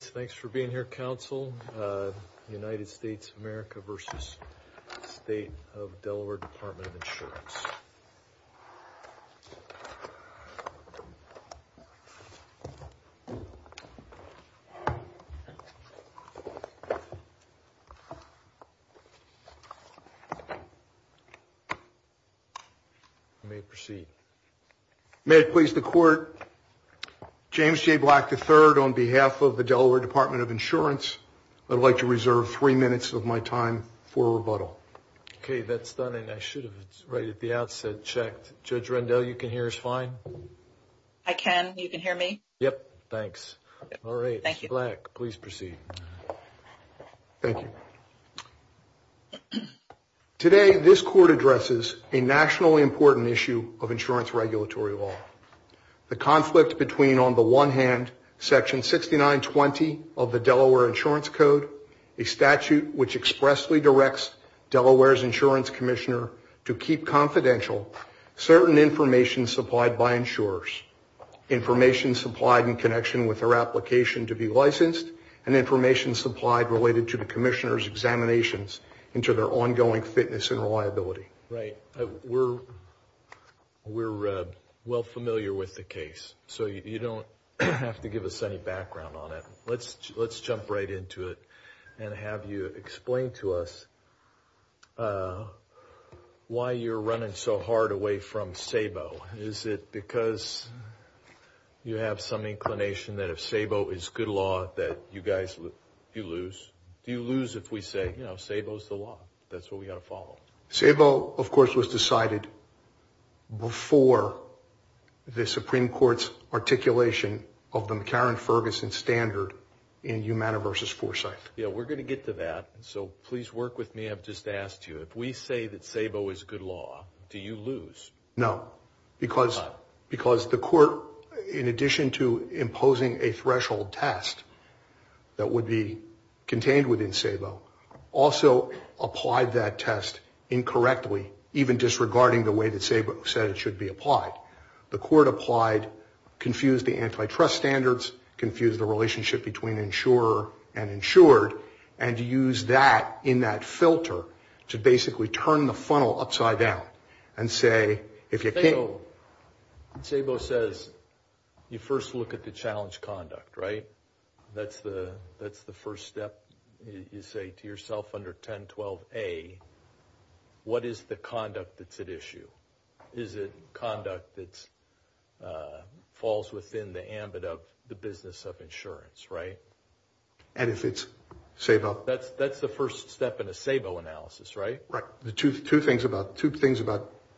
Thanks for being here, Council. United States of America v. State of Delaware Department of Insurance. You may proceed. May it please the Court, James J. Black III, on behalf of the Delaware Department of Insurance, I'd like to reserve three minutes of my time for rebuttal. Okay, that's done, and I should have, right at the outset, checked. Judge Rendell, you can hear us fine? I can. You can hear me? Yep. Thanks. All right. Thank you. Ms. Black, please proceed. Thank you. Today, this Court addresses a nationally important issue of insurance regulatory law, the conflict between, on the one hand, Section 6920 of the Delaware Insurance Code, a statute which expressly directs Delaware's insurance commissioner to keep confidential certain information supplied by insurers, information supplied in connection with their application to be licensed, and information supplied related to the commissioner's examinations into their ongoing fitness and reliability. Right. We're well familiar with the case, so you don't have to give us any background on it. Let's jump right into it and have you explain to us why you're running so hard away from SABO. Is it because you have some inclination that if SABO is good law that you guys, you lose? Do you lose if we say, you know, SABO's the law? That's what we've got to follow. SABO, of course, was decided before the Supreme Court's articulation of the McCarran-Ferguson standard in Humana v. Forsyth. Yeah, we're going to get to that, so please work with me. I've just asked you, if we say that SABO is good law, do you lose? No, because the court, in addition to imposing a threshold test that would be contained within SABO, also applied that test incorrectly, even disregarding the way that SABO said it should be applied. The court applied, confused the antitrust standards, confused the relationship between insurer and insured, and used that in that filter to basically turn the funnel upside down and say, if you can't... SABO says you first look at the challenge conduct, right? That's the first step. You say to yourself under 1012A, what is the conduct that's at issue? Is it conduct that falls within the ambit of the business of insurance, right? And if it's SABO... That's the first step in a SABO analysis, right? Right. Two things about,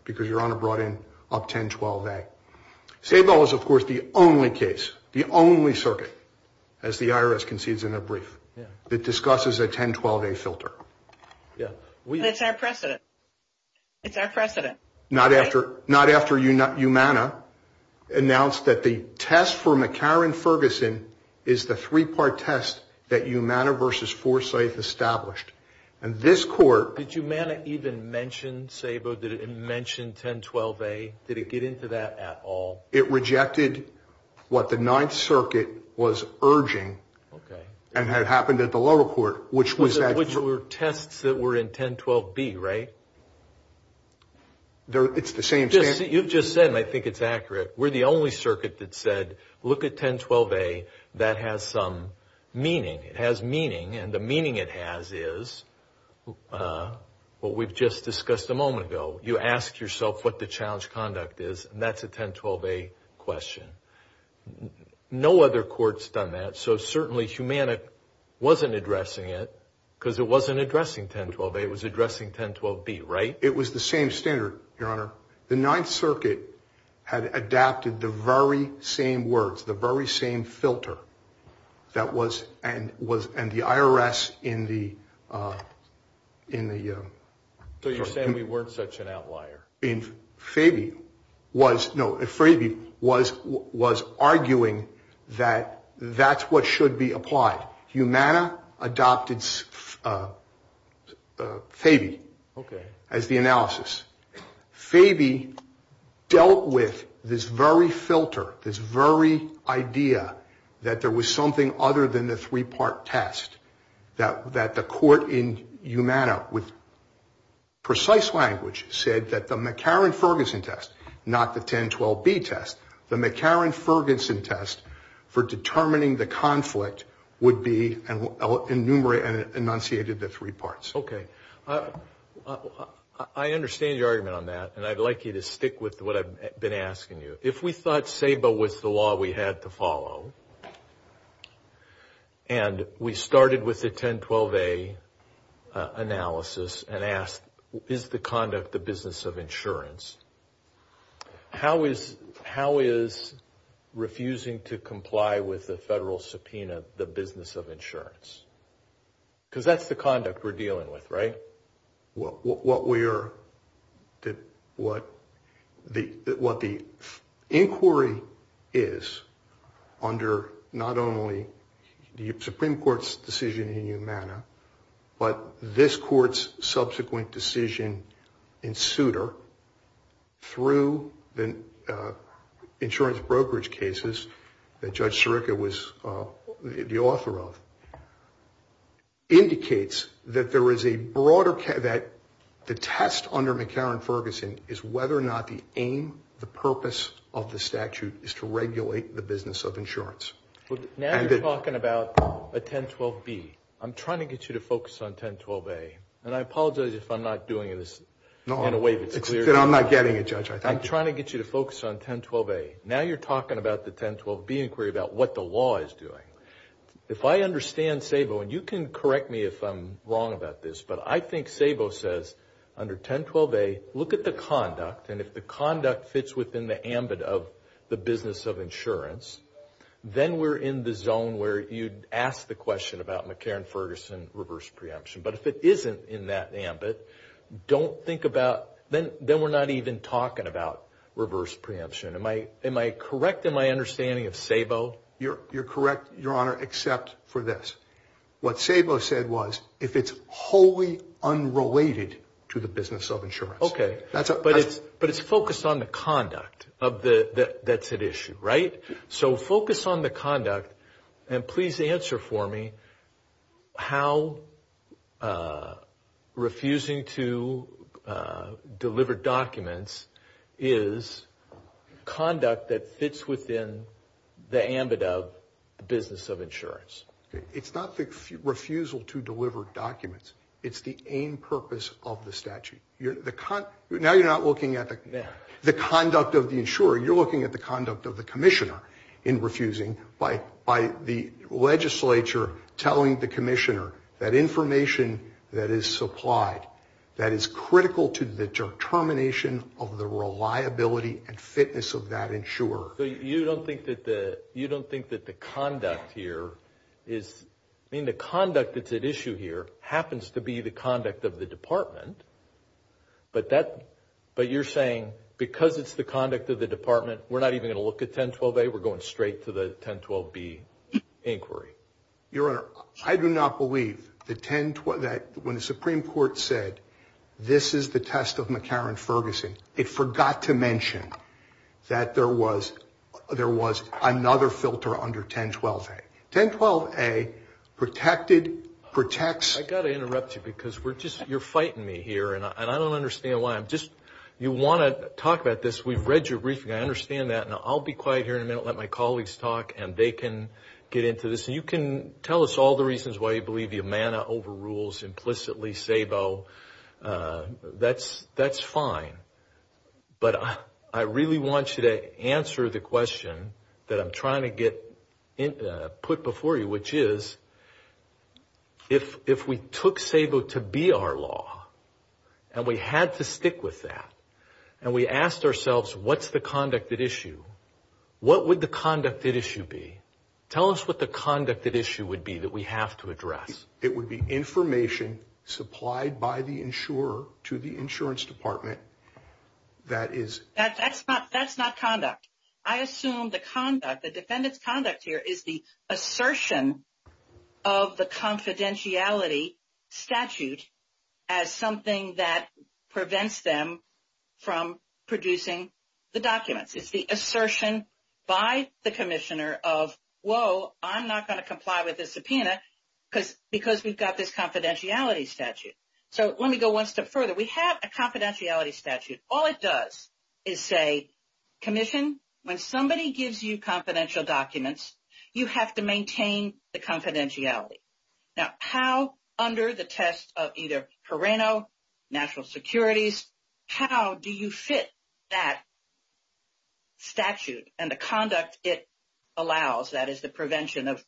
because Your Honor brought in up 1012A. SABO is, of course, the only case, the only circuit, as the IRS concedes in their brief, that discusses a 1012A filter. Yeah. It's our precedent. It's our precedent. Not after Umana announced that the test for McCarran-Ferguson is the three-part test that Umana v. Forsyth established. And this court... Did Umana even mention SABO? Did it mention 1012A? Did it get into that at all? It rejected what the Ninth Circuit was urging and had happened at the lower court, which was... Which were tests that were in 1012B, right? It's the same... You've just said, and I think it's accurate, we're the only circuit that said, look at 1012A. That has some meaning. It has meaning. And the meaning it has is what we've just discussed a moment ago. You ask yourself what the challenge conduct is, and that's a 1012A question. No other court's done that. So certainly, Humana wasn't addressing it because it wasn't addressing 1012A. It was addressing 1012B, right? It was the same standard, Your Honor. The Ninth Circuit had adapted the very same words, the very same filter that was... And the IRS in the... So you're saying we weren't such an outlier. No, Fabi was arguing that that's what should be applied. Humana adopted Fabi as the analysis. Fabi dealt with this very filter, this very idea that there was something other than the three-part test. That the court in Humana with precise language said that the McCarran-Ferguson test, not the 1012B test, the McCarran-Ferguson test for determining the conflict would be enunciated in the three parts. Okay. I understand your argument on that, and I'd like you to stick with what I've been asking you. If we thought SABA was the law we had to follow, and we started with the 1012A analysis and asked, is the conduct the business of insurance, how is refusing to comply with the federal subpoena the business of insurance? Because that's the conduct we're dealing with, right? What the inquiry is under not only the Supreme Court's decision in Humana, but this court's subsequent decision in Souter, through the insurance brokerage cases that Judge Sirica was the author of, indicates that the test under McCarran-Ferguson is whether or not the aim, the purpose of the statute is to regulate the business of insurance. Now you're talking about a 1012B. I'm trying to get you to focus on 1012A, and I apologize if I'm not doing this in a way that's clear to you. I'm not getting it, Judge. I'm trying to get you to focus on 1012A. Now you're talking about the 1012B inquiry about what the law is doing. If I understand SABO, and you can correct me if I'm wrong about this, but I think SABO says under 1012A, look at the conduct, and if the conduct fits within the ambit of the business of insurance, then we're in the zone where you'd ask the question about McCarran-Ferguson reverse preemption. But if it isn't in that ambit, don't think about, then we're not even talking about reverse preemption. Am I correct in my understanding of SABO? You're correct, Your Honor, except for this. What SABO said was if it's wholly unrelated to the business of insurance. Okay. But it's focused on the conduct that's at issue, right? So focus on the conduct, and please answer for me how refusing to deliver documents is conduct that fits within the ambit of the business of insurance. It's not the refusal to deliver documents. It's the aim, purpose of the statute. Now you're not looking at the conduct of the insurer. You're looking at the conduct of the commissioner in refusing, by the legislature telling the commissioner that information that is supplied, that is critical to the determination of the reliability and fitness of that insurer. You don't think that the conduct here is, I mean, the conduct that's at issue here happens to be the conduct of the department, but you're saying because it's the conduct of the department, we're not even going to look at 1012A? We're going straight to the 1012B inquiry? Your Honor, I do not believe that when the Supreme Court said, this is the test of McCarran-Ferguson, it forgot to mention that there was another filter under 1012A. 1012A protected, protects. I've got to interrupt you because you're fighting me here, and I don't understand why. You want to talk about this. We've read your briefing. I understand that. I'll be quiet here in a minute and let my colleagues talk, and they can get into this. You can tell us all the reasons why you believe Yamana overrules implicitly SABO. That's fine. But I really want you to answer the question that I'm trying to get put before you, which is if we took SABO to be our law, and we had to stick with that, and we asked ourselves what's the conducted issue, what would the conducted issue be? Tell us what the conducted issue would be that we have to address. It would be information supplied by the insurer to the insurance department that is... That's not conduct. I assume the conduct, the defendant's conduct here is the assertion of the confidentiality statute as something that prevents them from producing the documents. It's the assertion by the commissioner of, whoa, I'm not going to comply with this subpoena, because we've got this confidentiality statute. So let me go one step further. We have a confidentiality statute. All it does is say, commission, when somebody gives you confidential documents, you have to maintain the confidentiality. Now, how under the test of either Perrano, national securities, how do you fit that statute and the conduct it allows, that is the prevention of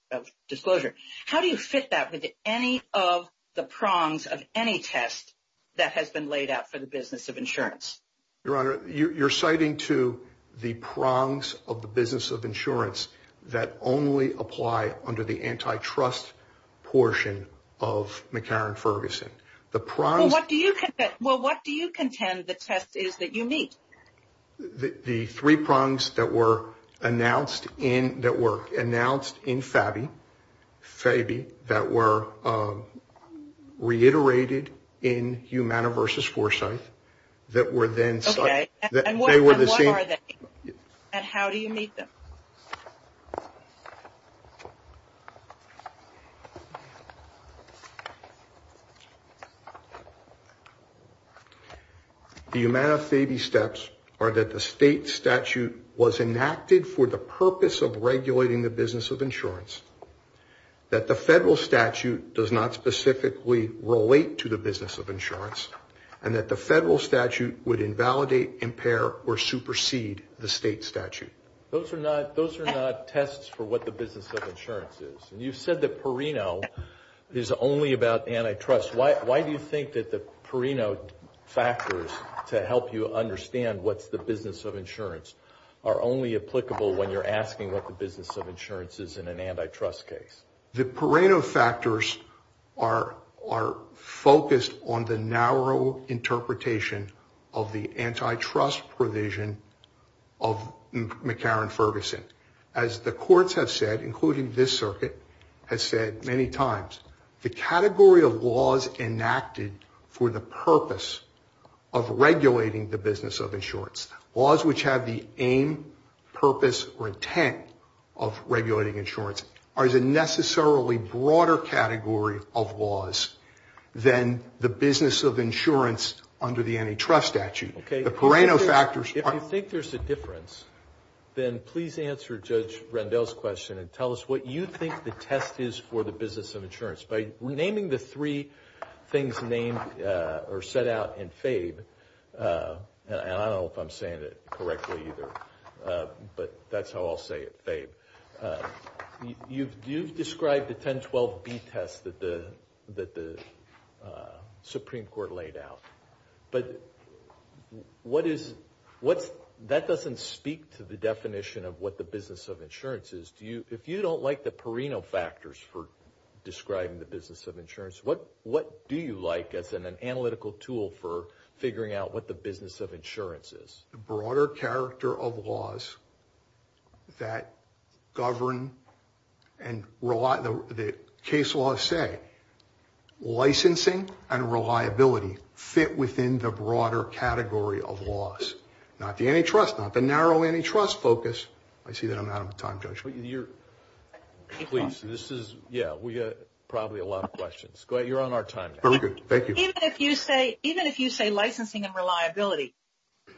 disclosure, how do you fit that with any of the prongs of any test that has been laid out for the business of insurance? Your Honor, you're citing to the prongs of the business of insurance that only apply under the antitrust portion of McCarran-Ferguson. Well, what do you contend the test is that you meet? The three prongs that were announced in FABI, that were reiterated in Humana versus Foresight, that were then cited. And what are they? And how do you meet them? The Humana-FABI steps are that the state statute was enacted for the purpose of regulating the business of insurance, that the federal statute does not specifically relate to the business of insurance, and that the federal statute would invalidate, impair, or supersede the state statute. Those are not tests for what the business of insurance is. And you said that Perrano is only about antitrust. Why do you think that the Perrano factors to help you understand what's the business of insurance are only applicable when you're asking what the business of insurance is in an antitrust case? The Perrano factors are focused on the narrow interpretation of the antitrust provision of McCarran-Ferguson. As the courts have said, including this circuit, has said many times, the category of laws enacted for the purpose of regulating the business of insurance, laws which have the aim, purpose, or intent of regulating insurance, are a necessarily broader category of laws than the business of insurance under the antitrust statute. If you think there's a difference, then please answer Judge Rendell's question and tell us what you think the test is for the business of insurance. By naming the three things named or set out in FABE, and I don't know if I'm saying it correctly either, but that's how I'll say it, FABE, you've described the 1012B test that the Supreme Court laid out. But that doesn't speak to the definition of what the business of insurance is. If you don't like the Perrano factors for describing the business of insurance, what do you like as an analytical tool for figuring out what the business of insurance is? The broader character of laws that govern and that case laws say, licensing and reliability fit within the broader category of laws. Not the antitrust, not the narrow antitrust focus. I see that I'm out of time, Judge. Please, this is, yeah, we got probably a lot of questions. You're on our time now. Very good. Thank you. Even if you say licensing and reliability,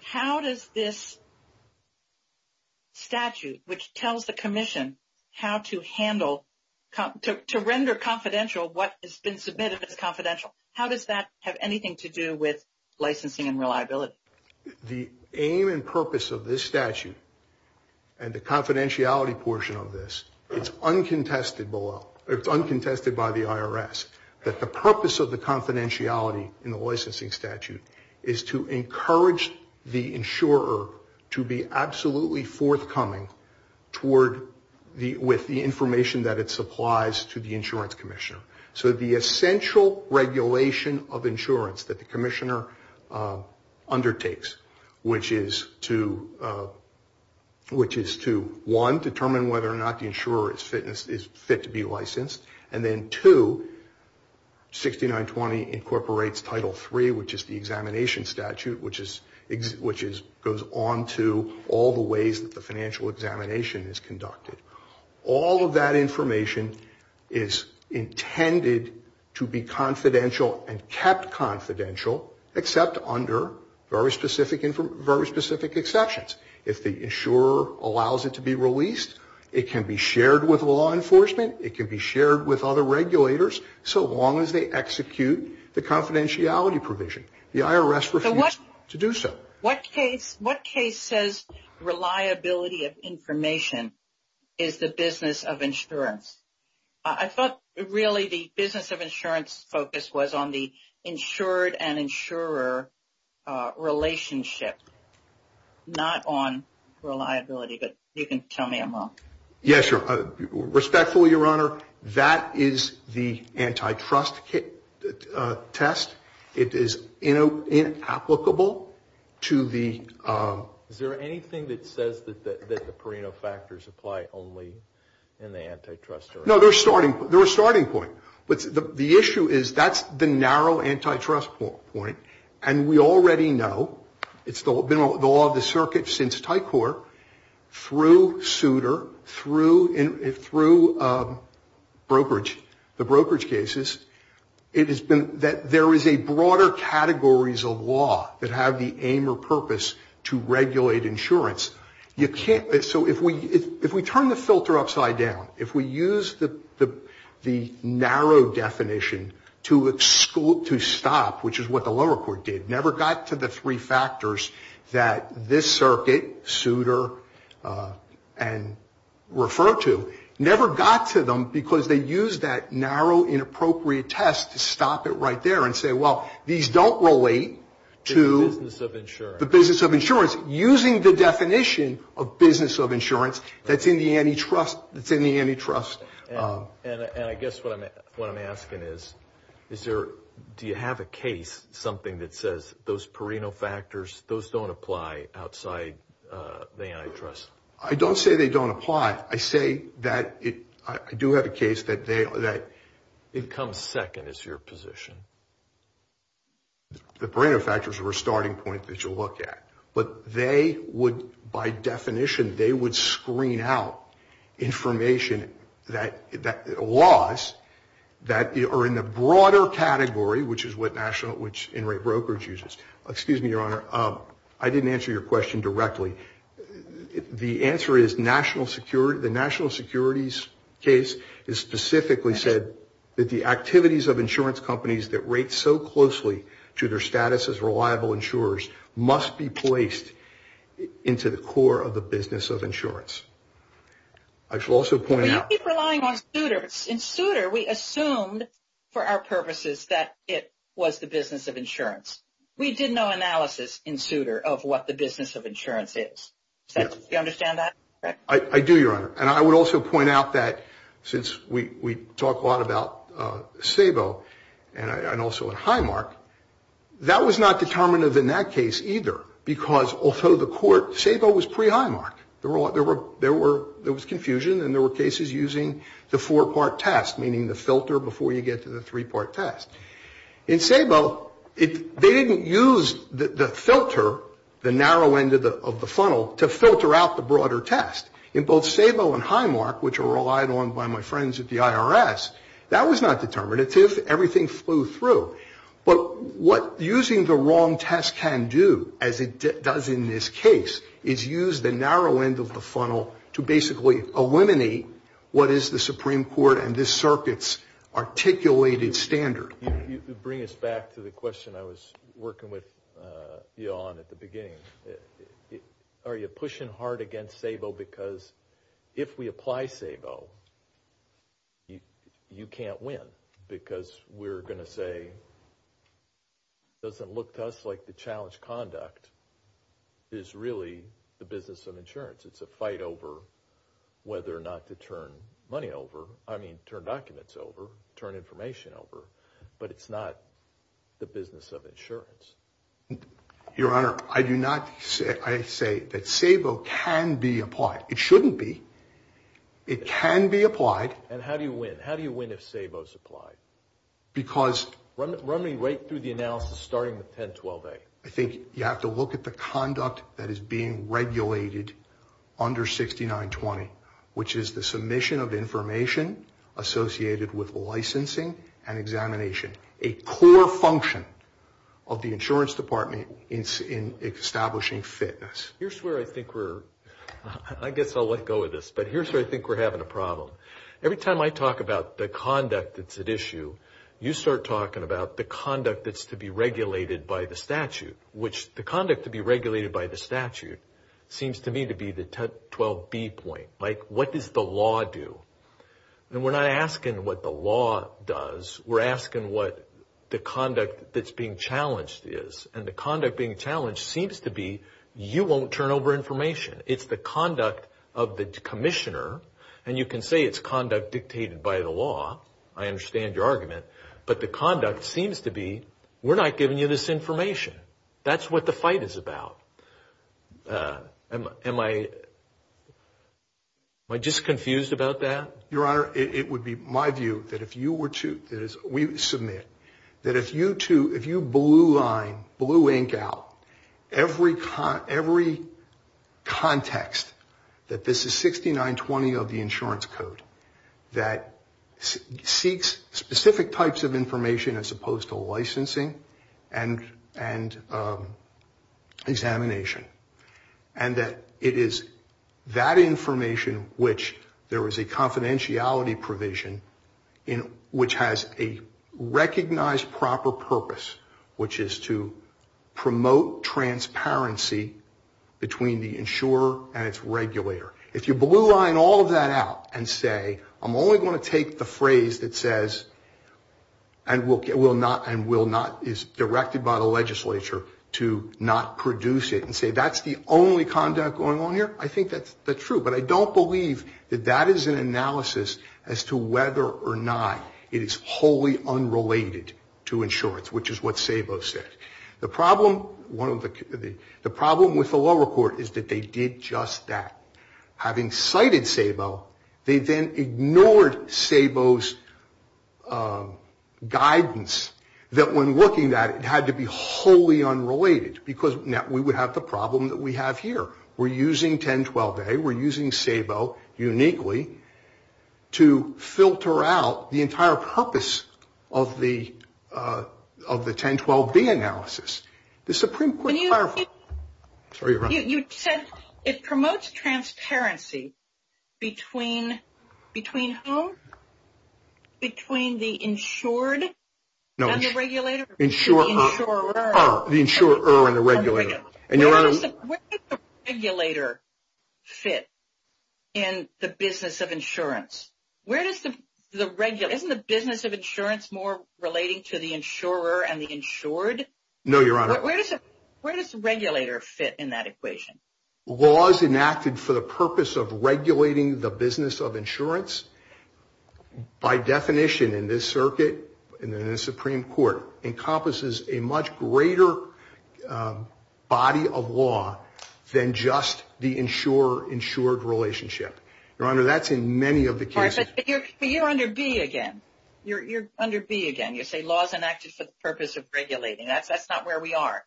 how does this statute which tells the commission how to handle, to render confidential what has been submitted as confidential, how does that have anything to do with licensing and reliability? The aim and purpose of this statute and the confidentiality portion of this, it's uncontested by the IRS, that the purpose of the confidentiality in the licensing statute is to encourage the insurer to be absolutely forthcoming with the information that it supplies to the insurance commissioner. So the essential regulation of insurance that the commissioner undertakes, which is to one, determine whether or not the insurer is fit to be licensed, and then two, 6920 incorporates Title III, which is the examination statute, which goes on to all the ways that the financial examination is conducted. All of that information is intended to be confidential and kept confidential, except under very specific exceptions. If the insurer allows it to be released, it can be shared with law enforcement, it can be shared with other regulators, so long as they execute the confidentiality provision. The IRS refuses to do so. What case says reliability of information is the business of insurance? I thought really the business of insurance focus was on the insured and insurer relationship, not on reliability, but you can tell me I'm wrong. Yeah, sure. Respectfully, Your Honor, that is the antitrust test. It is inapplicable to the ‑‑ Is there anything that says that the Perino factors apply only in the antitrust area? No, they're a starting point. But the issue is that's the narrow antitrust point, and we already know, it's been the law of the circuit since Tycor, through Souter, through brokerage, the brokerage cases, it has been that there is a broader categories of law that have the aim or purpose to regulate insurance. So if we turn the filter upside down, if we use the narrow definition to stop, which is what the lower court did, never got to the three factors that this circuit, Souter, and referred to, never got to them because they used that narrow inappropriate test to stop it right there and say, well, these don't relate to the business of insurance, using the definition of business of insurance that's in the antitrust. And I guess what I'm asking is, do you have a case, something that says those Perino factors, those don't apply outside the antitrust? I don't say they don't apply. I say that I do have a case that they are that. It comes second is your position. The Perino factors are a starting point that you'll look at. But they would, by definition, they would screen out information that laws that are in the broader category, which is what national, which in rate brokerages. Excuse me, Your Honor. I didn't answer your question directly. The answer is national security. The national securities case is specifically said that the activities of insurance companies that rate so closely to their status as reliable insurers must be placed into the core of the business of insurance. I should also point out. I keep relying on Souter. In Souter, we assumed for our purposes that it was the business of insurance. We did no analysis in Souter of what the business of insurance is. Do you understand that? I do, Your Honor. And I would also point out that since we talk a lot about SABO and also in Highmark, that was not determinative in that case either because although the court, SABO was pre-Highmark. There was confusion and there were cases using the four-part test, meaning the filter before you get to the three-part test. In SABO, they didn't use the filter, the narrow end of the funnel, to filter out the broader test. In both SABO and Highmark, which are relied on by my friends at the IRS, that was not determinative. Everything flew through. But what using the wrong test can do, as it does in this case, is use the narrow end of the funnel to basically eliminate what is the Supreme Court and this circuit's articulated standard. You bring us back to the question I was working with you on at the beginning. Are you pushing hard against SABO because if we apply SABO, you can't win because we're going to say it doesn't look to us like the challenge conduct is really the business of insurance. It's a fight over whether or not to turn money over, I mean turn documents over, turn information over. But it's not the business of insurance. Your Honor, I do not say that SABO can be applied. It shouldn't be. It can be applied. And how do you win? How do you win if SABO is applied? Run me right through the analysis starting with 1012A. I think you have to look at the conduct that is being regulated under 6920, which is the submission of information associated with licensing and examination, a core function of the insurance department in establishing fitness. Here's where I think we're, I guess I'll let go of this, but here's where I think we're having a problem. Every time I talk about the conduct that's at issue, you start talking about the conduct that's to be regulated by the statute, which the conduct to be regulated by the statute seems to me to be the 1012B point. Like what does the law do? And we're not asking what the law does. We're asking what the conduct that's being challenged is. And the conduct being challenged seems to be you won't turn over information. It's the conduct of the commissioner. And you can say it's conduct dictated by the law. I understand your argument. But the conduct seems to be we're not giving you this information. That's what the fight is about. Am I just confused about that? Your Honor, it would be my view that if you were to submit, that if you blue line, blue ink out every context that this is 6920 of the insurance code that seeks specific types of information as opposed to licensing and examination, and that it is that information which there is a confidentiality provision which has a recognized proper purpose, which is to promote transparency between the insurer and its regulator. If you blue line all of that out and say I'm only going to take the phrase that says and is directed by the legislature to not produce it and say that's the only conduct going on here, I think that's true. But I don't believe that that is an analysis as to whether or not it is wholly unrelated to insurance, which is what SABO said. The problem with the lower court is that they did just that. Having cited SABO, they then ignored SABO's guidance that when looking at it, it had to be wholly unrelated because we would have the problem that we have here. We're using 1012A. We're using SABO uniquely to filter out the entire purpose of the 1012B analysis. The Supreme Court clarified. Sorry, Your Honor. You said it promotes transparency between whom? Between the insured and the regulator? No, the insurer and the regulator. Where does the regulator fit in the business of insurance? Isn't the business of insurance more relating to the insurer and the insured? No, Your Honor. Where does the regulator fit in that equation? Laws enacted for the purpose of regulating the business of insurance, by definition in this circuit and in the Supreme Court, encompasses a much greater body of law than just the insurer-insured relationship. Your Honor, that's in many of the cases. But you're under B again. You're under B again. You say laws enacted for the purpose of regulating. That's not where we are.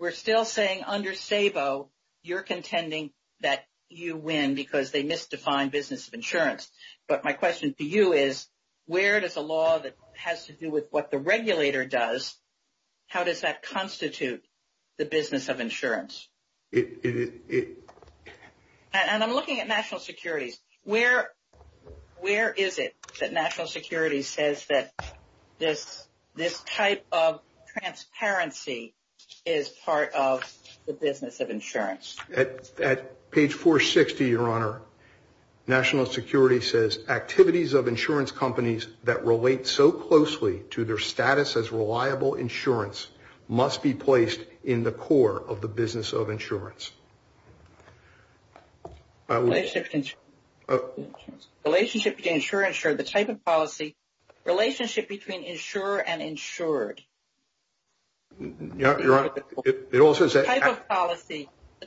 We're still saying under SABO, you're contending that you win because they misdefine business of insurance. But my question to you is, where does a law that has to do with what the regulator does, how does that constitute the business of insurance? And I'm looking at national securities. Where is it that national security says that this type of transparency is part of the business of insurance? At page 460, Your Honor, national security says, activities of insurance companies that relate so closely to their status as reliable insurance must be placed in the core of the business of insurance. Relationship between insurer-insured, the type of policy. Relationship between insurer and insured. Yeah, Your Honor. The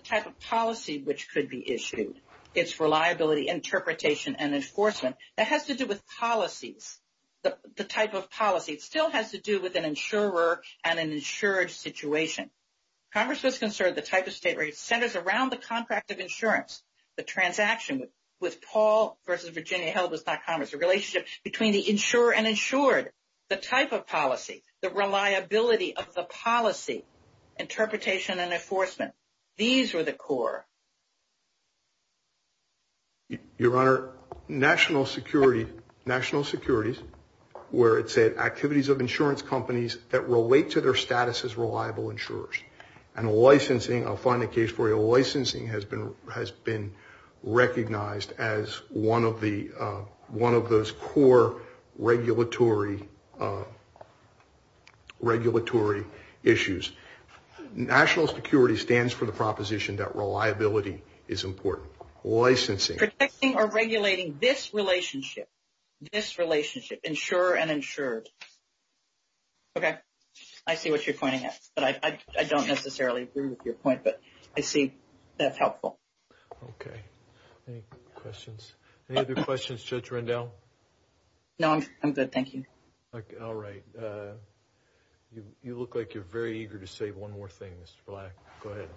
type of policy which could be issued, its reliability, interpretation, and enforcement, that has to do with policies, the type of policy. It still has to do with an insurer and an insured situation. Congress was concerned the type of state where it centers around the contract of insurance, the transaction with Paul v. Virginia Health Business Commerce, the relationship between the insurer and insured. The type of policy. The reliability of the policy. Interpretation and enforcement. These were the core. Your Honor, national security, national securities, where it said activities of insurance companies that relate to their status as reliable insurers. And licensing, I'll find a case for you, licensing has been recognized as one of those core regulatory issues. National security stands for the proposition that reliability is important. Licensing. Protecting or regulating this relationship, this relationship, insurer and insured. Okay, I see what you're pointing at. I don't necessarily agree with your point, but I see that's helpful. Okay. Any questions? Any other questions, Judge Rendell? No, I'm good. Thank you. All right. You look like you're very eager to say one more thing, Mr. Black. Go ahead.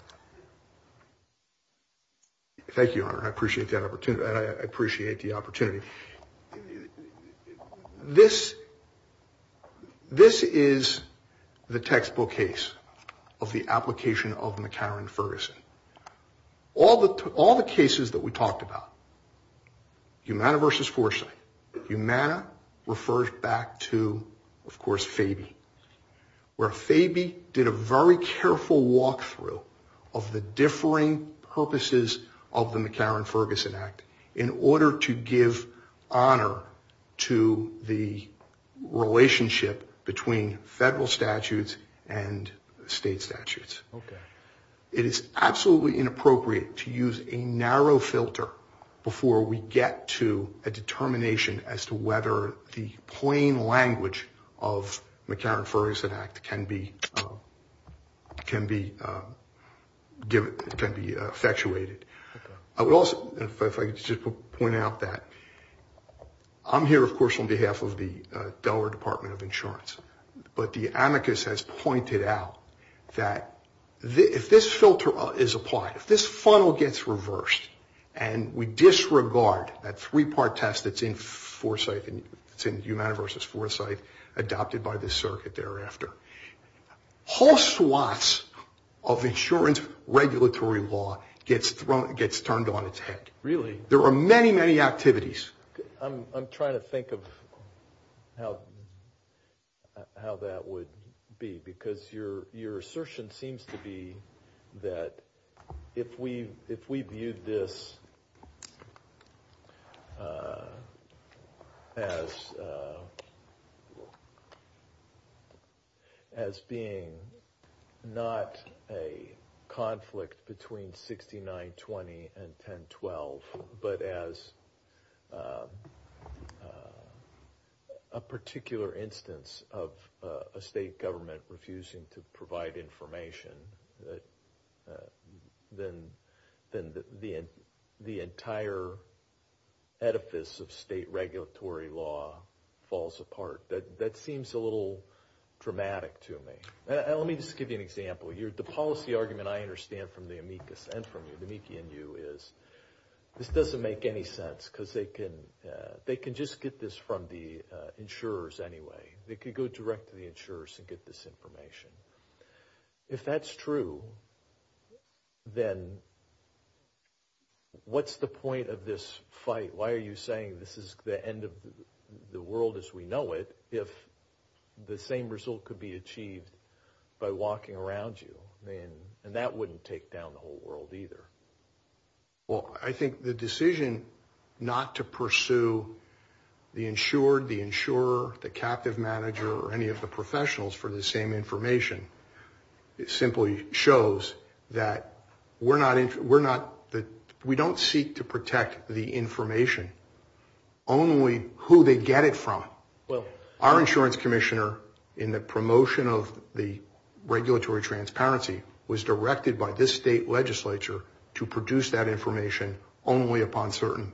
Thank you, Your Honor. I appreciate the opportunity. This is the textbook case of the application of McCarran-Ferguson. All the cases that we talked about, Humana versus Forsythe, Humana refers back to, of course, Fabie, where Fabie did a very careful walkthrough of the differing purposes of the McCarran-Ferguson Act in order to give honor to the relationship between federal statutes and state statutes. Okay. It is absolutely inappropriate to use a narrow filter before we get to a determination as to whether the plain language of the McCarran-Ferguson Act can be effectuated. If I could just point out that I'm here, of course, on behalf of the Delaware Department of Insurance, but the amicus has pointed out that if this filter is applied, if this funnel gets reversed and we disregard that three-part test that's in Humana versus Forsythe adopted by the circuit thereafter, whole swaths of insurance regulatory law gets turned on its head. Really? There are many, many activities. I'm trying to think of how that would be as being not a conflict between 6920 and 1012, but as a particular instance of a state government refusing to provide information. Then the entire edifice of state regulatory law falls apart. That seems a little dramatic to me. Let me just give you an example. The policy argument I understand from the amicus and from you, the amici in you, is this doesn't make any sense because they can just get this from the insurers anyway. They could go direct to the insurers and get this information. If that's true, then what's the point of this fight? Why are you saying this is the end of the world as we know it if the same result could be achieved by walking around you? That wouldn't take down the whole world either. I think the decision not to pursue the insured, the insurer, the captive manager, or any of the professionals for the same information, simply shows that we don't seek to protect the information, only who they get it from. Our insurance commissioner, in the promotion of the regulatory transparency, was directed by this state legislature to produce that information only upon certain.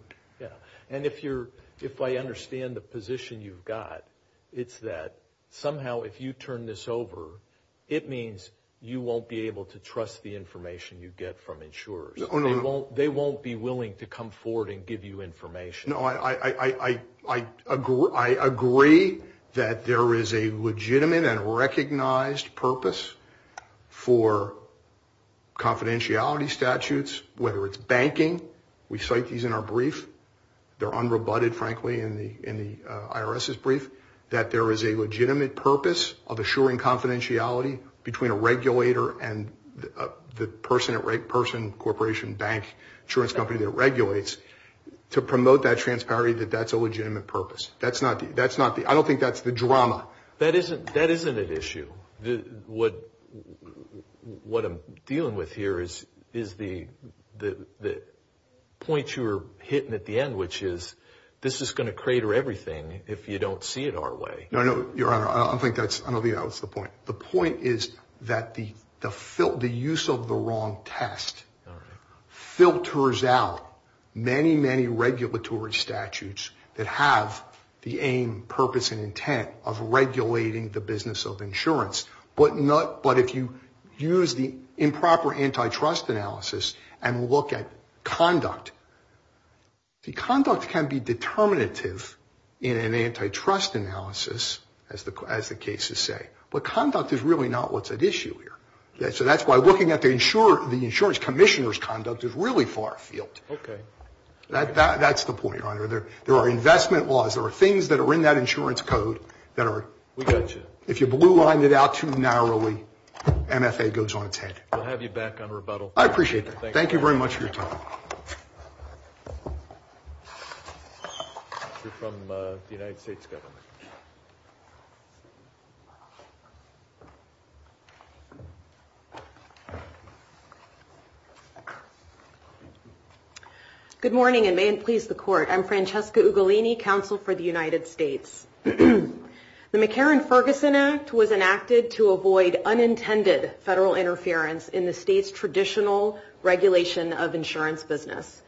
If I understand the position you've got, it's that somehow if you turn this over, it means you won't be able to trust the information you get from insurers. They won't be willing to come forward and give you information. I agree that there is a legitimate and recognized purpose for confidentiality statutes, whether it's banking. We cite these in our brief. They're unrebutted, frankly, in the IRS's brief, that there is a legitimate purpose of assuring confidentiality between a regulator and the person, corporation, bank, insurance company that regulates to promote that transparency that that's a legitimate purpose. I don't think that's the drama. That isn't an issue. What I'm dealing with here is the point you were hitting at the end, which is this is going to crater everything if you don't see it our way. No, no, Your Honor. I don't think that's the point. The point is that the use of the wrong test filters out many, many regulatory statutes that have the aim, purpose, and intent of regulating the business of insurance, but if you use the improper antitrust analysis and look at conduct, conduct can be determinative in an antitrust analysis, as the cases say, but conduct is really not what's at issue here. So that's why looking at the insurance commissioner's conduct is really far afield. Okay. That's the point, Your Honor. There are investment laws. There are things that are in that insurance code that are – We got you. If you blue line it out too narrowly, MFA goes on its head. We'll have you back on rebuttal. I appreciate that. Thank you very much for your time. You're from the United States government. Good morning, and may it please the Court. I'm Francesca Ugolini, Counsel for the United States. The McCarran-Ferguson Act was enacted to avoid unintended federal interference in the state's traditional regulation of insurance business,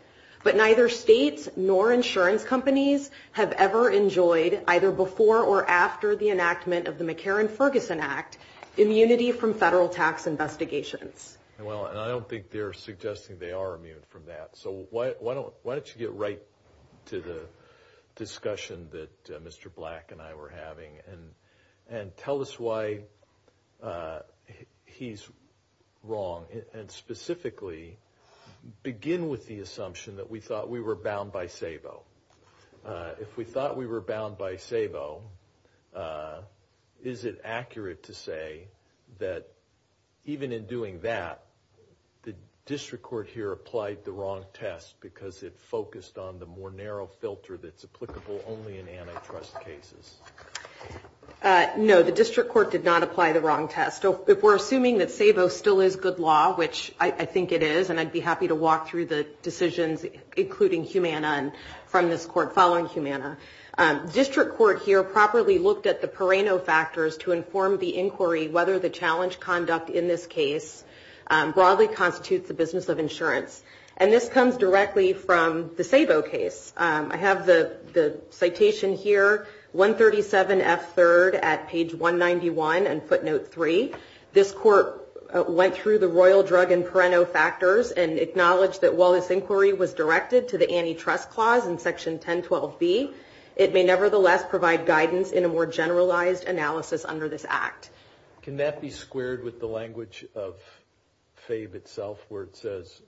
but neither states nor insurance companies have ever enjoyed, either before or after the enactment of the McCarran-Ferguson Act, immunity from federal tax investigations. Well, and I don't think they're suggesting they are immune from that. So why don't you get right to the discussion that Mr. Black and I were having and tell us why he's wrong, and specifically begin with the assumption that we thought we were bound by SABO. If we thought we were bound by SABO, is it accurate to say that even in doing that, the district court here applied the wrong test because it focused on the more narrow filter that's applicable only in antitrust cases? No, the district court did not apply the wrong test. If we're assuming that SABO still is good law, which I think it is, and I'd be happy to walk through the decisions, including Humana, from this court following Humana, the district court here properly looked at the Pereno factors to inform the inquiry whether the challenge conduct in this case broadly constitutes the business of insurance. And this comes directly from the SABO case. I have the citation here, 137F3rd at page 191 and footnote 3. This court went through the royal drug and Pereno factors and acknowledged that while this inquiry was directed to the antitrust clause in section 1012B, it may nevertheless provide guidance in a more generalized analysis under this act. Can that be squared with the language of FABE itself where it says,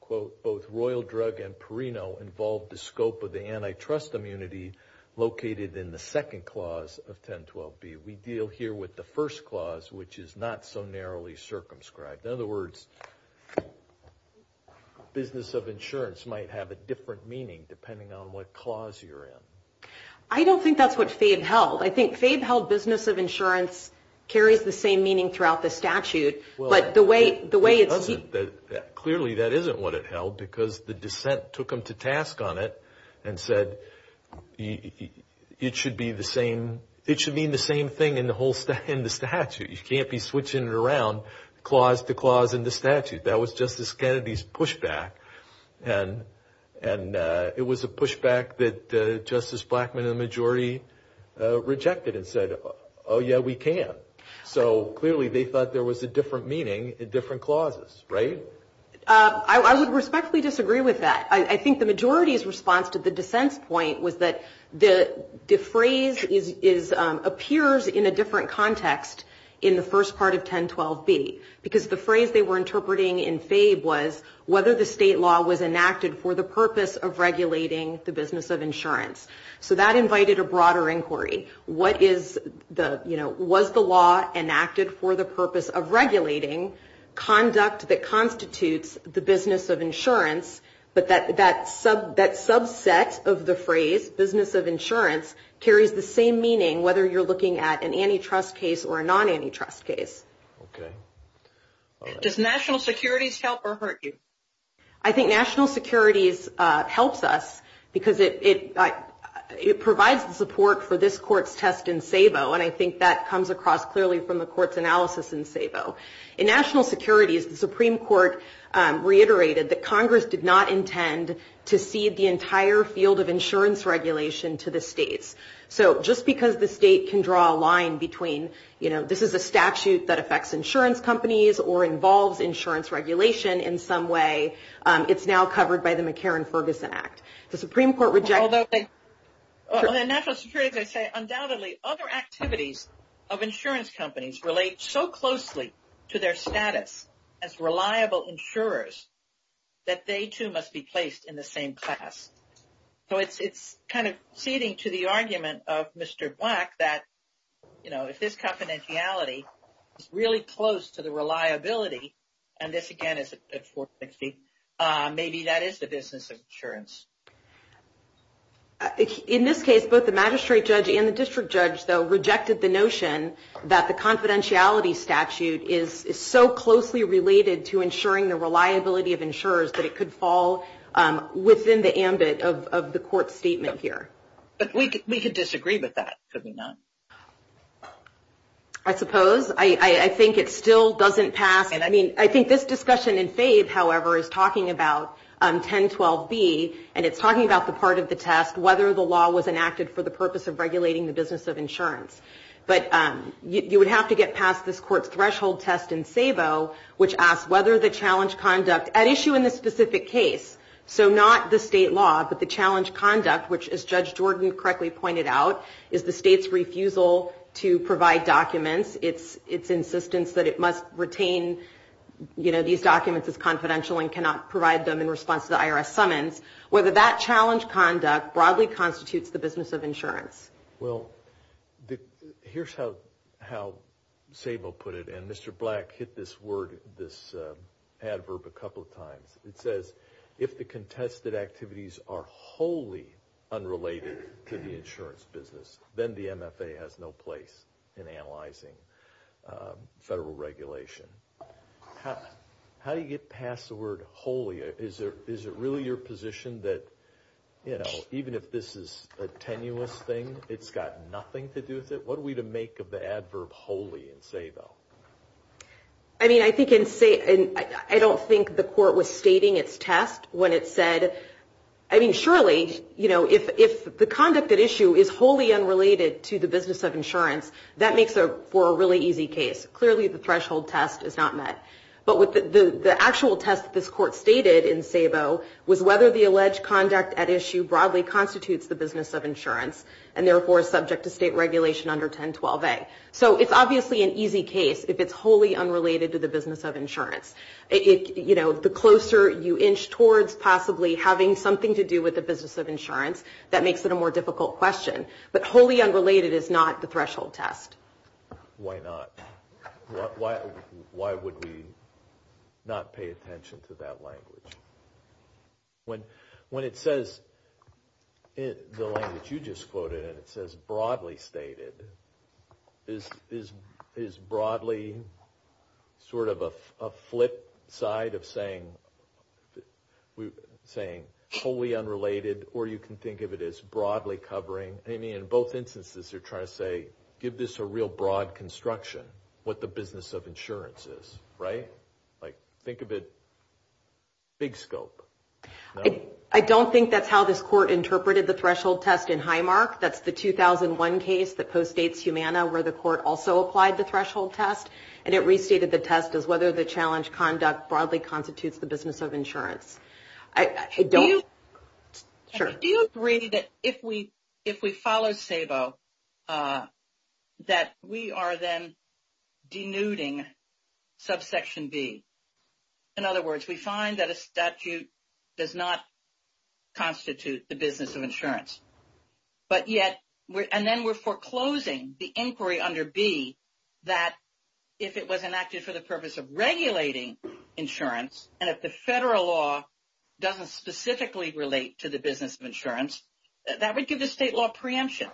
quote, both royal drug and Pereno involved the scope of the antitrust immunity located in the second clause of 1012B. We deal here with the first clause, which is not so narrowly circumscribed. In other words, business of insurance might have a different meaning depending on what clause you're in. I don't think that's what FABE held. I think FABE held business of insurance carries the same meaning throughout the statute, but the way it's— Clearly that isn't what it held because the dissent took them to task on it and said it should mean the same thing in the statute. You can't be switching it around clause to clause in the statute. That was Justice Kennedy's pushback. And it was a pushback that Justice Blackmun and the majority rejected and said, oh, yeah, we can. So clearly they thought there was a different meaning in different clauses, right? I would respectfully disagree with that. I think the majority's response to the dissent's point was that the phrase appears in a different context in the first part of 1012B because the phrase they were interpreting in FABE was whether the state law was enacted for the purpose of regulating the business of insurance. So that invited a broader inquiry. Was the law enacted for the purpose of regulating conduct that constitutes the business of insurance? But that subset of the phrase, business of insurance, carries the same meaning whether you're looking at an antitrust case or a non-antitrust case. Okay. Does national securities help or hurt you? I think national securities helps us because it provides the support for this court's test in SABO, and I think that comes across clearly from the court's analysis in SABO. In national securities, the Supreme Court reiterated that Congress did not intend to cede the entire field of insurance regulation to the states. So just because the state can draw a line between, you know, this is a statute that affects insurance companies or involves insurance regulation in some way, it's now covered by the McCarran-Ferguson Act. The Supreme Court rejects that. In national securities, I say, undoubtedly, other activities of insurance companies relate so closely to their status as reliable insurers that they too must be placed in the same class. So it's kind of ceding to the argument of Mr. Black that, you know, if this confidentiality is really close to the reliability, and this, again, is at 460, maybe that is the business of insurance. In this case, both the magistrate judge and the district judge, though, rejected the notion that the confidentiality statute is so closely related to ensuring the reliability of insurers that it could fall within the ambit of the court's statement here. But we could disagree with that, could we not? I suppose. I think it still doesn't pass. I mean, I think this discussion in Fave, however, is talking about 1012B, and it's talking about the part of the test, whether the law was enacted for the purpose of regulating the business of insurance. But you would have to get past this court's threshold test in Sabo, which asks whether the challenge conduct at issue in this specific case, so not the state law, but the challenge conduct, which, as Judge Jordan correctly pointed out, is the state's refusal to provide documents, its insistence that it must retain these documents as confidential and cannot provide them in response to the IRS summons, whether that challenge conduct broadly constitutes the business of insurance. Well, here's how Sabo put it, and Mr. Black hit this adverb a couple of times. It says, if the contested activities are wholly unrelated to the insurance business, then the MFA has no place in analyzing federal regulation. How do you get past the word wholly? Is it really your position that, you know, even if this is a tenuous thing, it's got nothing to do with it? What are we to make of the adverb wholly in Sabo? I mean, I think in Sabo, I don't think the court was stating its test when it said, I mean, surely, you know, if the conduct at issue is wholly unrelated to the business of insurance, that makes for a really easy case. Clearly, the threshold test is not met. But the actual test that this court stated in Sabo was whether the alleged conduct at issue broadly constitutes the business of insurance and, therefore, is subject to state regulation under 1012A. So it's obviously an easy case if it's wholly unrelated to the business of insurance. You know, the closer you inch towards possibly having something to do with the business of insurance, that makes it a more difficult question. But wholly unrelated is not the threshold test. Why not? Why would we not pay attention to that language? When it says the language you just quoted, and it says broadly stated, is broadly sort of a flip side of saying wholly unrelated, or you can think of it as broadly covering? I mean, in both instances, you're trying to say, give this a real broad construction, what the business of insurance is, right? Like, think of it big scope. I don't think that's how this court interpreted the threshold test in Highmark. That's the 2001 case that postdates Humana, where the court also applied the threshold test, and it restated the test as whether the challenge conduct broadly constitutes the business of insurance. Do you agree that if we follow SABO, that we are then denuding subsection B? In other words, we find that a statute does not constitute the business of insurance. But yet, and then we're foreclosing the inquiry under B, that if it was enacted for the purpose of regulating insurance, and if the federal law doesn't specifically relate to the business of insurance, that would give the state law preemption.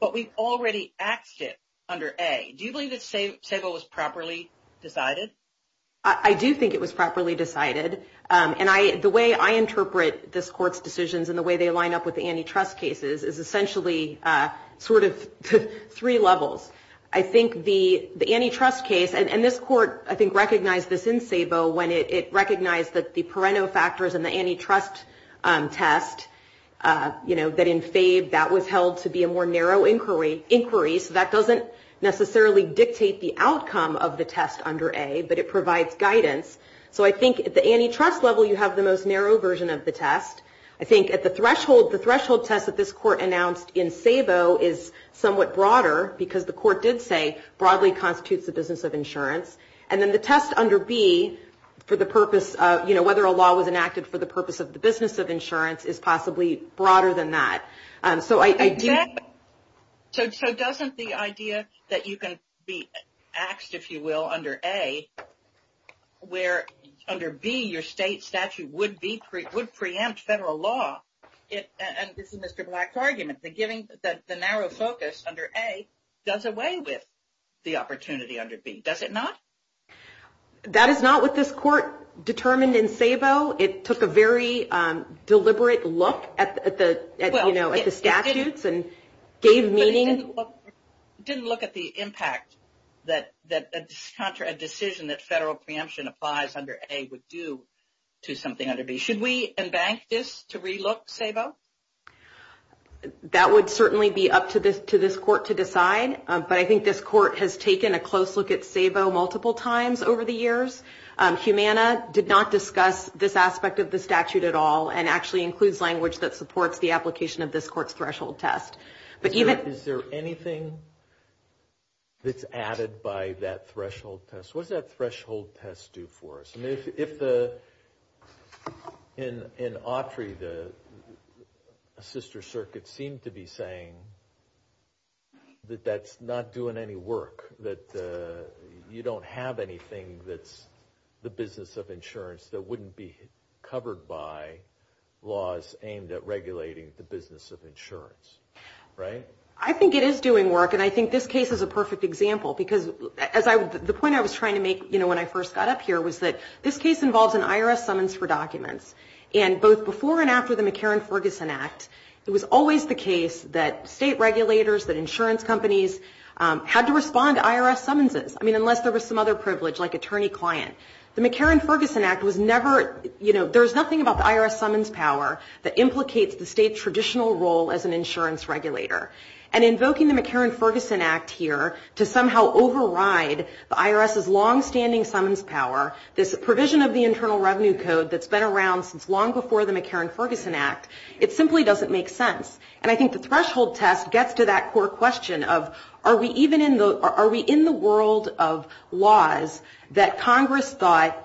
But we've already axed it under A. Do you believe that SABO was properly decided? I do think it was properly decided, and the way I interpret this court's decisions and the way they line up with the antitrust cases is essentially sort of three levels. I think the antitrust case, and this court, I think, recognized this in SABO when it recognized that the Pareto factors and the antitrust test, you know, that in FABE, that was held to be a more narrow inquiry. So that doesn't necessarily dictate the outcome of the test under A, but it provides guidance. So I think at the antitrust level, you have the most narrow version of the test. I think at the threshold, the threshold test that this court announced in SABO is somewhat broader because the court did say broadly constitutes the business of insurance. And then the test under B for the purpose of, you know, whether a law was enacted for the purpose of the business of insurance is possibly broader than that. So I do. So doesn't the idea that you can be axed, if you will, under A, where under B your state statute would preempt federal law, and this is Mr. Black's argument, that the narrow focus under A does away with the opportunity under B, does it not? That is not what this court determined in SABO. It took a very deliberate look at the statutes and gave meaning. It didn't look at the impact that a decision that federal preemption applies under A would do to something under B. Should we embank this to relook SABO? That would certainly be up to this court to decide, but I think this court has taken a close look at SABO multiple times over the years. Humana did not discuss this aspect of the statute at all and actually includes language that supports the application of this court's threshold test. Is there anything that's added by that threshold test? What does that threshold test do for us? If in Autry the sister circuit seemed to be saying that that's not doing any work, that you don't have anything that's the business of insurance that wouldn't be covered by laws aimed at regulating the business of insurance, right? I think it is doing work and I think this case is a perfect example because the point I was trying to make when I first got up here was that this case involves an IRS summons for documents. And both before and after the McCarran-Ferguson Act, it was always the case that state regulators, that insurance companies, had to respond to IRS summonses. I mean, unless there was some other privilege like attorney-client. The McCarran-Ferguson Act was never, you know, there's nothing about the IRS summons power that implicates the state's traditional role as an insurance regulator. And invoking the McCarran-Ferguson Act here to somehow override the IRS's longstanding summons power, this provision of the Internal Revenue Code that's been around since long before the McCarran-Ferguson Act, it simply doesn't make sense. And I think the threshold test gets to that core question of, are we in the world of laws that Congress thought,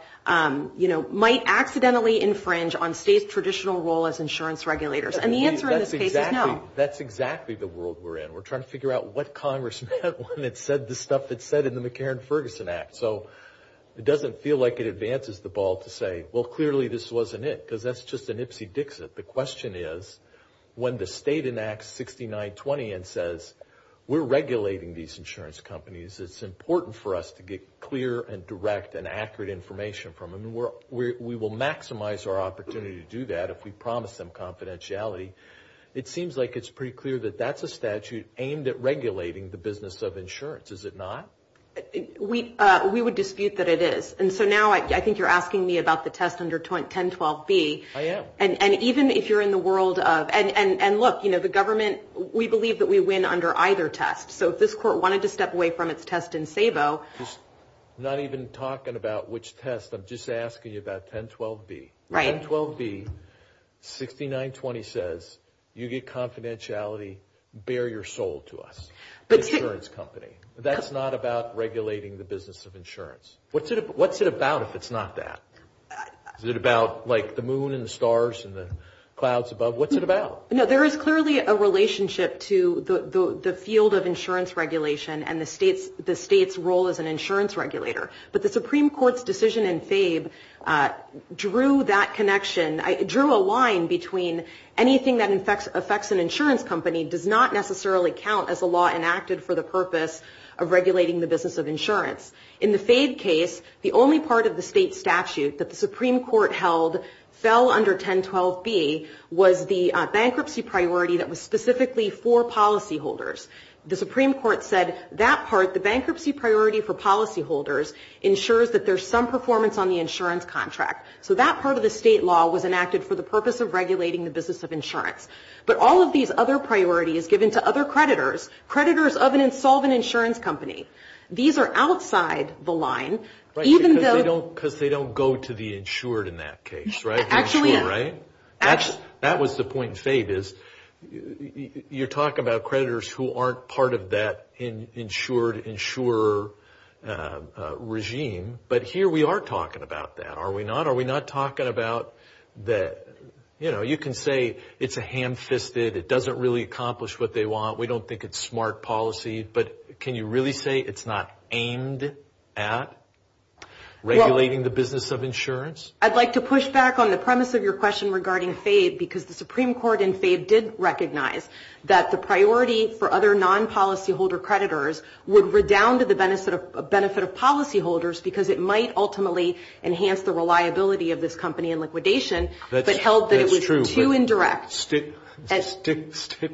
you know, might accidentally infringe on state's traditional role as insurance regulators? And the answer in this case is no. That's exactly the world we're in. We're trying to figure out what Congress meant when it said the stuff it said in the McCarran-Ferguson Act. So it doesn't feel like it advances the ball to say, well, clearly this wasn't it, because that's just an ipsy-dixit. The question is, when the state enacts 6920 and says, we're regulating these insurance companies, it's important for us to get clear and direct and accurate information from them. We will maximize our opportunity to do that if we promise them confidentiality. It seems like it's pretty clear that that's a statute aimed at regulating the business of insurance. Is it not? We would dispute that it is. And so now I think you're asking me about the test under 1012B. I am. And even if you're in the world of – and look, you know, the government, we believe that we win under either test. So if this court wanted to step away from its test in SABO – I'm not even talking about which test. I'm just asking you about 1012B. Right. 1012B, 6920 says, you get confidentiality, bare your soul to us, the insurance company. That's not about regulating the business of insurance. What's it about if it's not that? Is it about, like, the moon and the stars and the clouds above? What's it about? No, there is clearly a relationship to the field of insurance regulation and the state's role as an insurance regulator. But the Supreme Court's decision in FABE drew that connection – drew a line between anything that affects an insurance company does not necessarily count as a law enacted for the purpose of regulating the business of insurance. In the FABE case, the only part of the state statute that the Supreme Court held fell under 1012B was the bankruptcy priority that was specifically for policyholders. The Supreme Court said that part, the bankruptcy priority for policyholders, ensures that there's some performance on the insurance contract. So that part of the state law was enacted for the purpose of regulating the business of insurance. But all of these other priorities given to other creditors, creditors of an insolvent insurance company, these are outside the line, even though – Because they don't go to the insured in that case, right? Actually, yeah. Creditors who aren't part of that insured insurer regime. But here we are talking about that, are we not? Are we not talking about that, you know, you can say it's a ham-fisted, it doesn't really accomplish what they want, we don't think it's smart policy, but can you really say it's not aimed at regulating the business of insurance? I'd like to push back on the premise of your question regarding FABE because the Supreme Court in FABE did recognize that the priority for other non-policyholder creditors would redound to the benefit of policyholders because it might ultimately enhance the reliability of this company in liquidation. That's true. But held that it was too indirect. Stick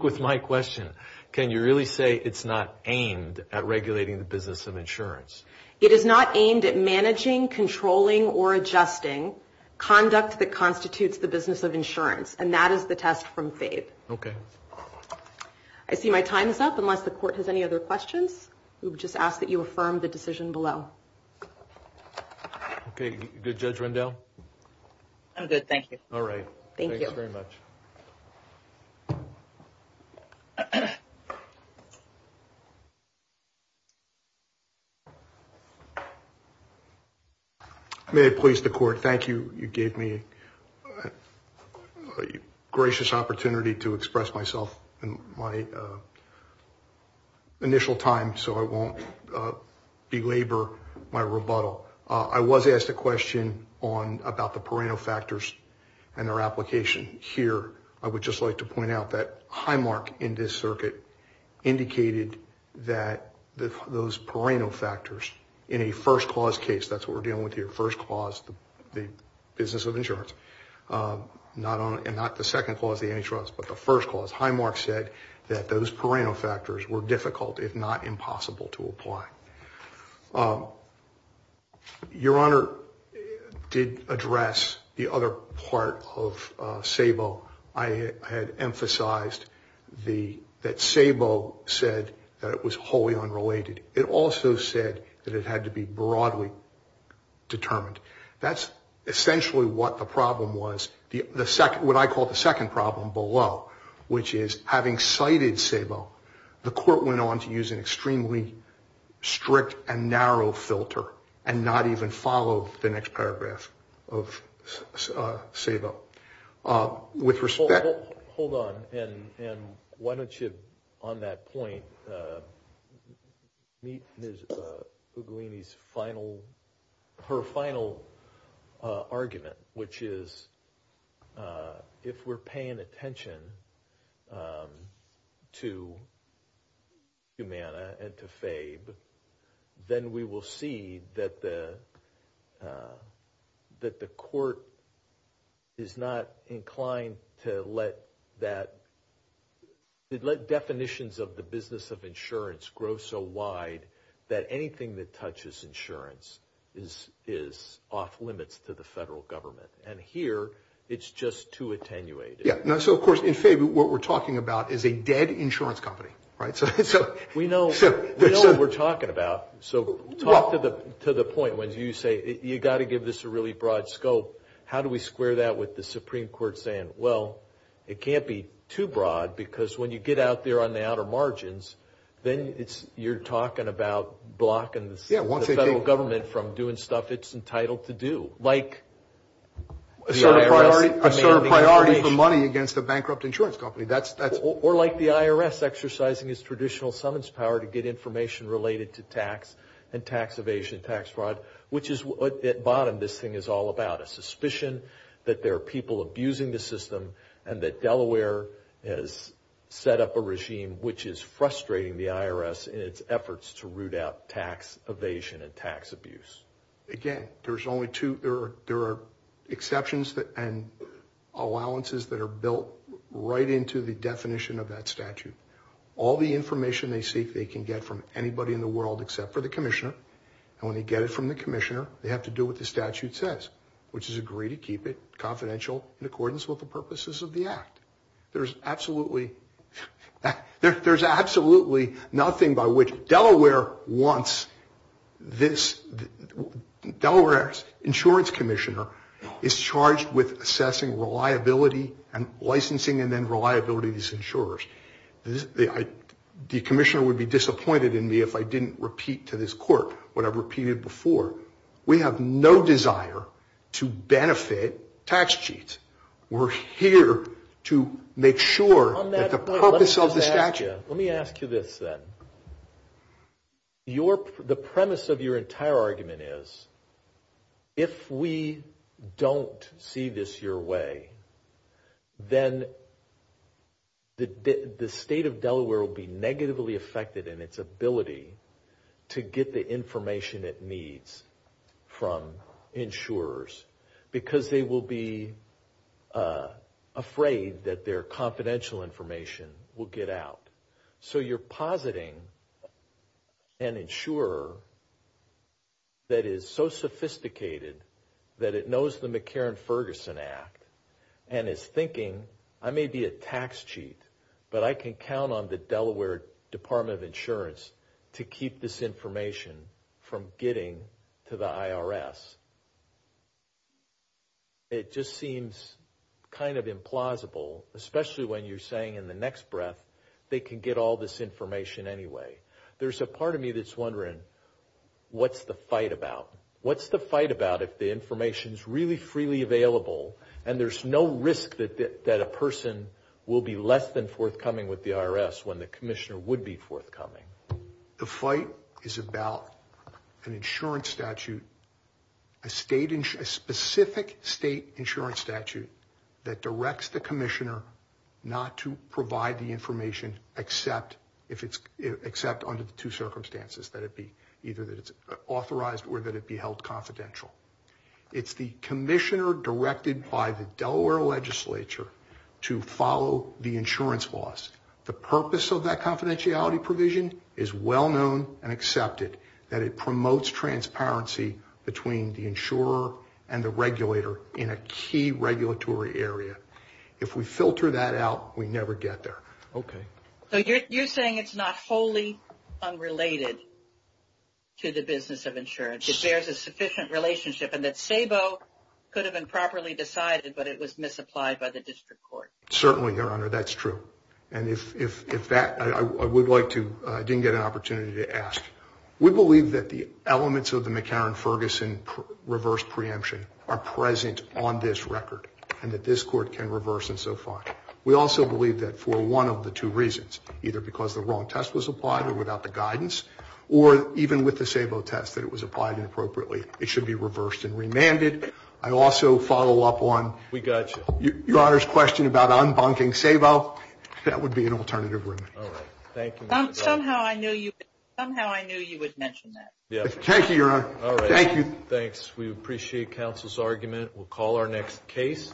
with my question. Can you really say it's not aimed at regulating the business of insurance? It is not aimed at managing, controlling, or adjusting conduct that constitutes the business of insurance. And that is the test from FABE. Okay. I see my time is up unless the court has any other questions. We would just ask that you affirm the decision below. Okay. Judge Rendell? I'm good, thank you. All right. Thank you. Thank you very much. May it please the court. Thank you. You gave me a gracious opportunity to express myself in my initial time so I won't belabor my rebuttal. I was asked a question about the perennial factors and their application. Here I would just like to point out that Highmark in this circuit indicated that those perennial factors in a first clause case, that's what we're dealing with here, first clause, the business of insurance, and not the second clause, the antitrust, but the first clause. Highmark said that those perennial factors were difficult, if not impossible, to apply. Your Honor did address the other part of SABO. I had emphasized that SABO said that it was wholly unrelated. It also said that it had to be broadly determined. That's essentially what the problem was, what I call the second problem below, which is having cited SABO, the court went on to use an extremely strict and narrow filter and not even follow the next paragraph of SABO. Hold on, and why don't you, on that point, meet Ms. Uglini's final, her final argument, which is if we're paying attention to Humana and to FABE, then we will see that the court is not inclined to let that, let definitions of the business of insurance grow so wide that anything that touches insurance is off limits to the federal government, and here, it's just too attenuated. Yeah, so of course, in FABE, what we're talking about is a dead insurance company, right? We know what we're talking about, so talk to the point when you say, you've got to give this a really broad scope. How do we square that with the Supreme Court saying, well, it can't be too broad, because when you get out there on the outer margins, then you're talking about blocking the federal government from doing stuff it's entitled to do, like the IRS demanding a breach. Assert a priority for money against a bankrupt insurance company. Or like the IRS exercising its traditional summons power to get information related to tax and tax evasion, tax fraud, which is what, at bottom, this thing is all about, a suspicion that there are people abusing the system and that Delaware has set up a regime which is frustrating the IRS in its efforts to root out tax evasion and tax abuse. Again, there are exceptions and allowances that are built right into the definition of that statute. All the information they seek, they can get from anybody in the world except for the commissioner, and when they get it from the commissioner, they have to do what the statute says, which is agree to keep it confidential in accordance with the purposes of the act. There's absolutely nothing by which Delaware wants this. Delaware's insurance commissioner is charged with assessing reliability and licensing and then reliability of these insurers. The commissioner would be disappointed in me if I didn't repeat to this court what I've repeated before. We have no desire to benefit tax cheats. We're here to make sure that the purpose of the statute. Let me ask you this then. The premise of your entire argument is if we don't see this your way, then the state of Delaware will be negatively affected in its ability to get the information it needs from insurers because they will be afraid that their confidential information will get out. So you're positing an insurer that is so sophisticated that it knows the McCarran-Ferguson Act and is thinking, I may be a tax cheat, but I can count on the Delaware Department of Insurance to keep this information from getting to the IRS. It just seems kind of implausible, especially when you're saying in the next breath, they can get all this information anyway. There's a part of me that's wondering, what's the fight about? What's the fight about if the information's really freely available and there's no risk that a person will be less than forthcoming with the IRS when the commissioner would be forthcoming? The fight is about an insurance statute, a specific state insurance statute, that directs the commissioner not to provide the information except under the two circumstances, that it be either that it's authorized or that it be held confidential. It's the commissioner directed by the Delaware legislature to follow the insurance laws. The purpose of that confidentiality provision is well-known and accepted, that it promotes transparency between the insurer and the regulator in a key regulatory area. If we filter that out, we never get there. Okay. So you're saying it's not wholly unrelated to the business of insurance. It bears a sufficient relationship and that SABO could have been properly decided, but it was misapplied by the district court. Certainly, Your Honor, that's true. And if that, I would like to, I didn't get an opportunity to ask. We believe that the elements of the McCarran-Ferguson reverse preemption are present on this record and that this court can reverse them so far. We also believe that for one of the two reasons, either because the wrong test was applied or without the guidance, or even with the SABO test that it was applied inappropriately, it should be reversed and remanded. I also follow up on- We got you. Your Honor's question about unbunking SABO, that would be an alternative remand. Somehow I knew you would mention that. Thank you, Your Honor. Thank you. Thanks. We appreciate counsel's argument. We'll call our next case.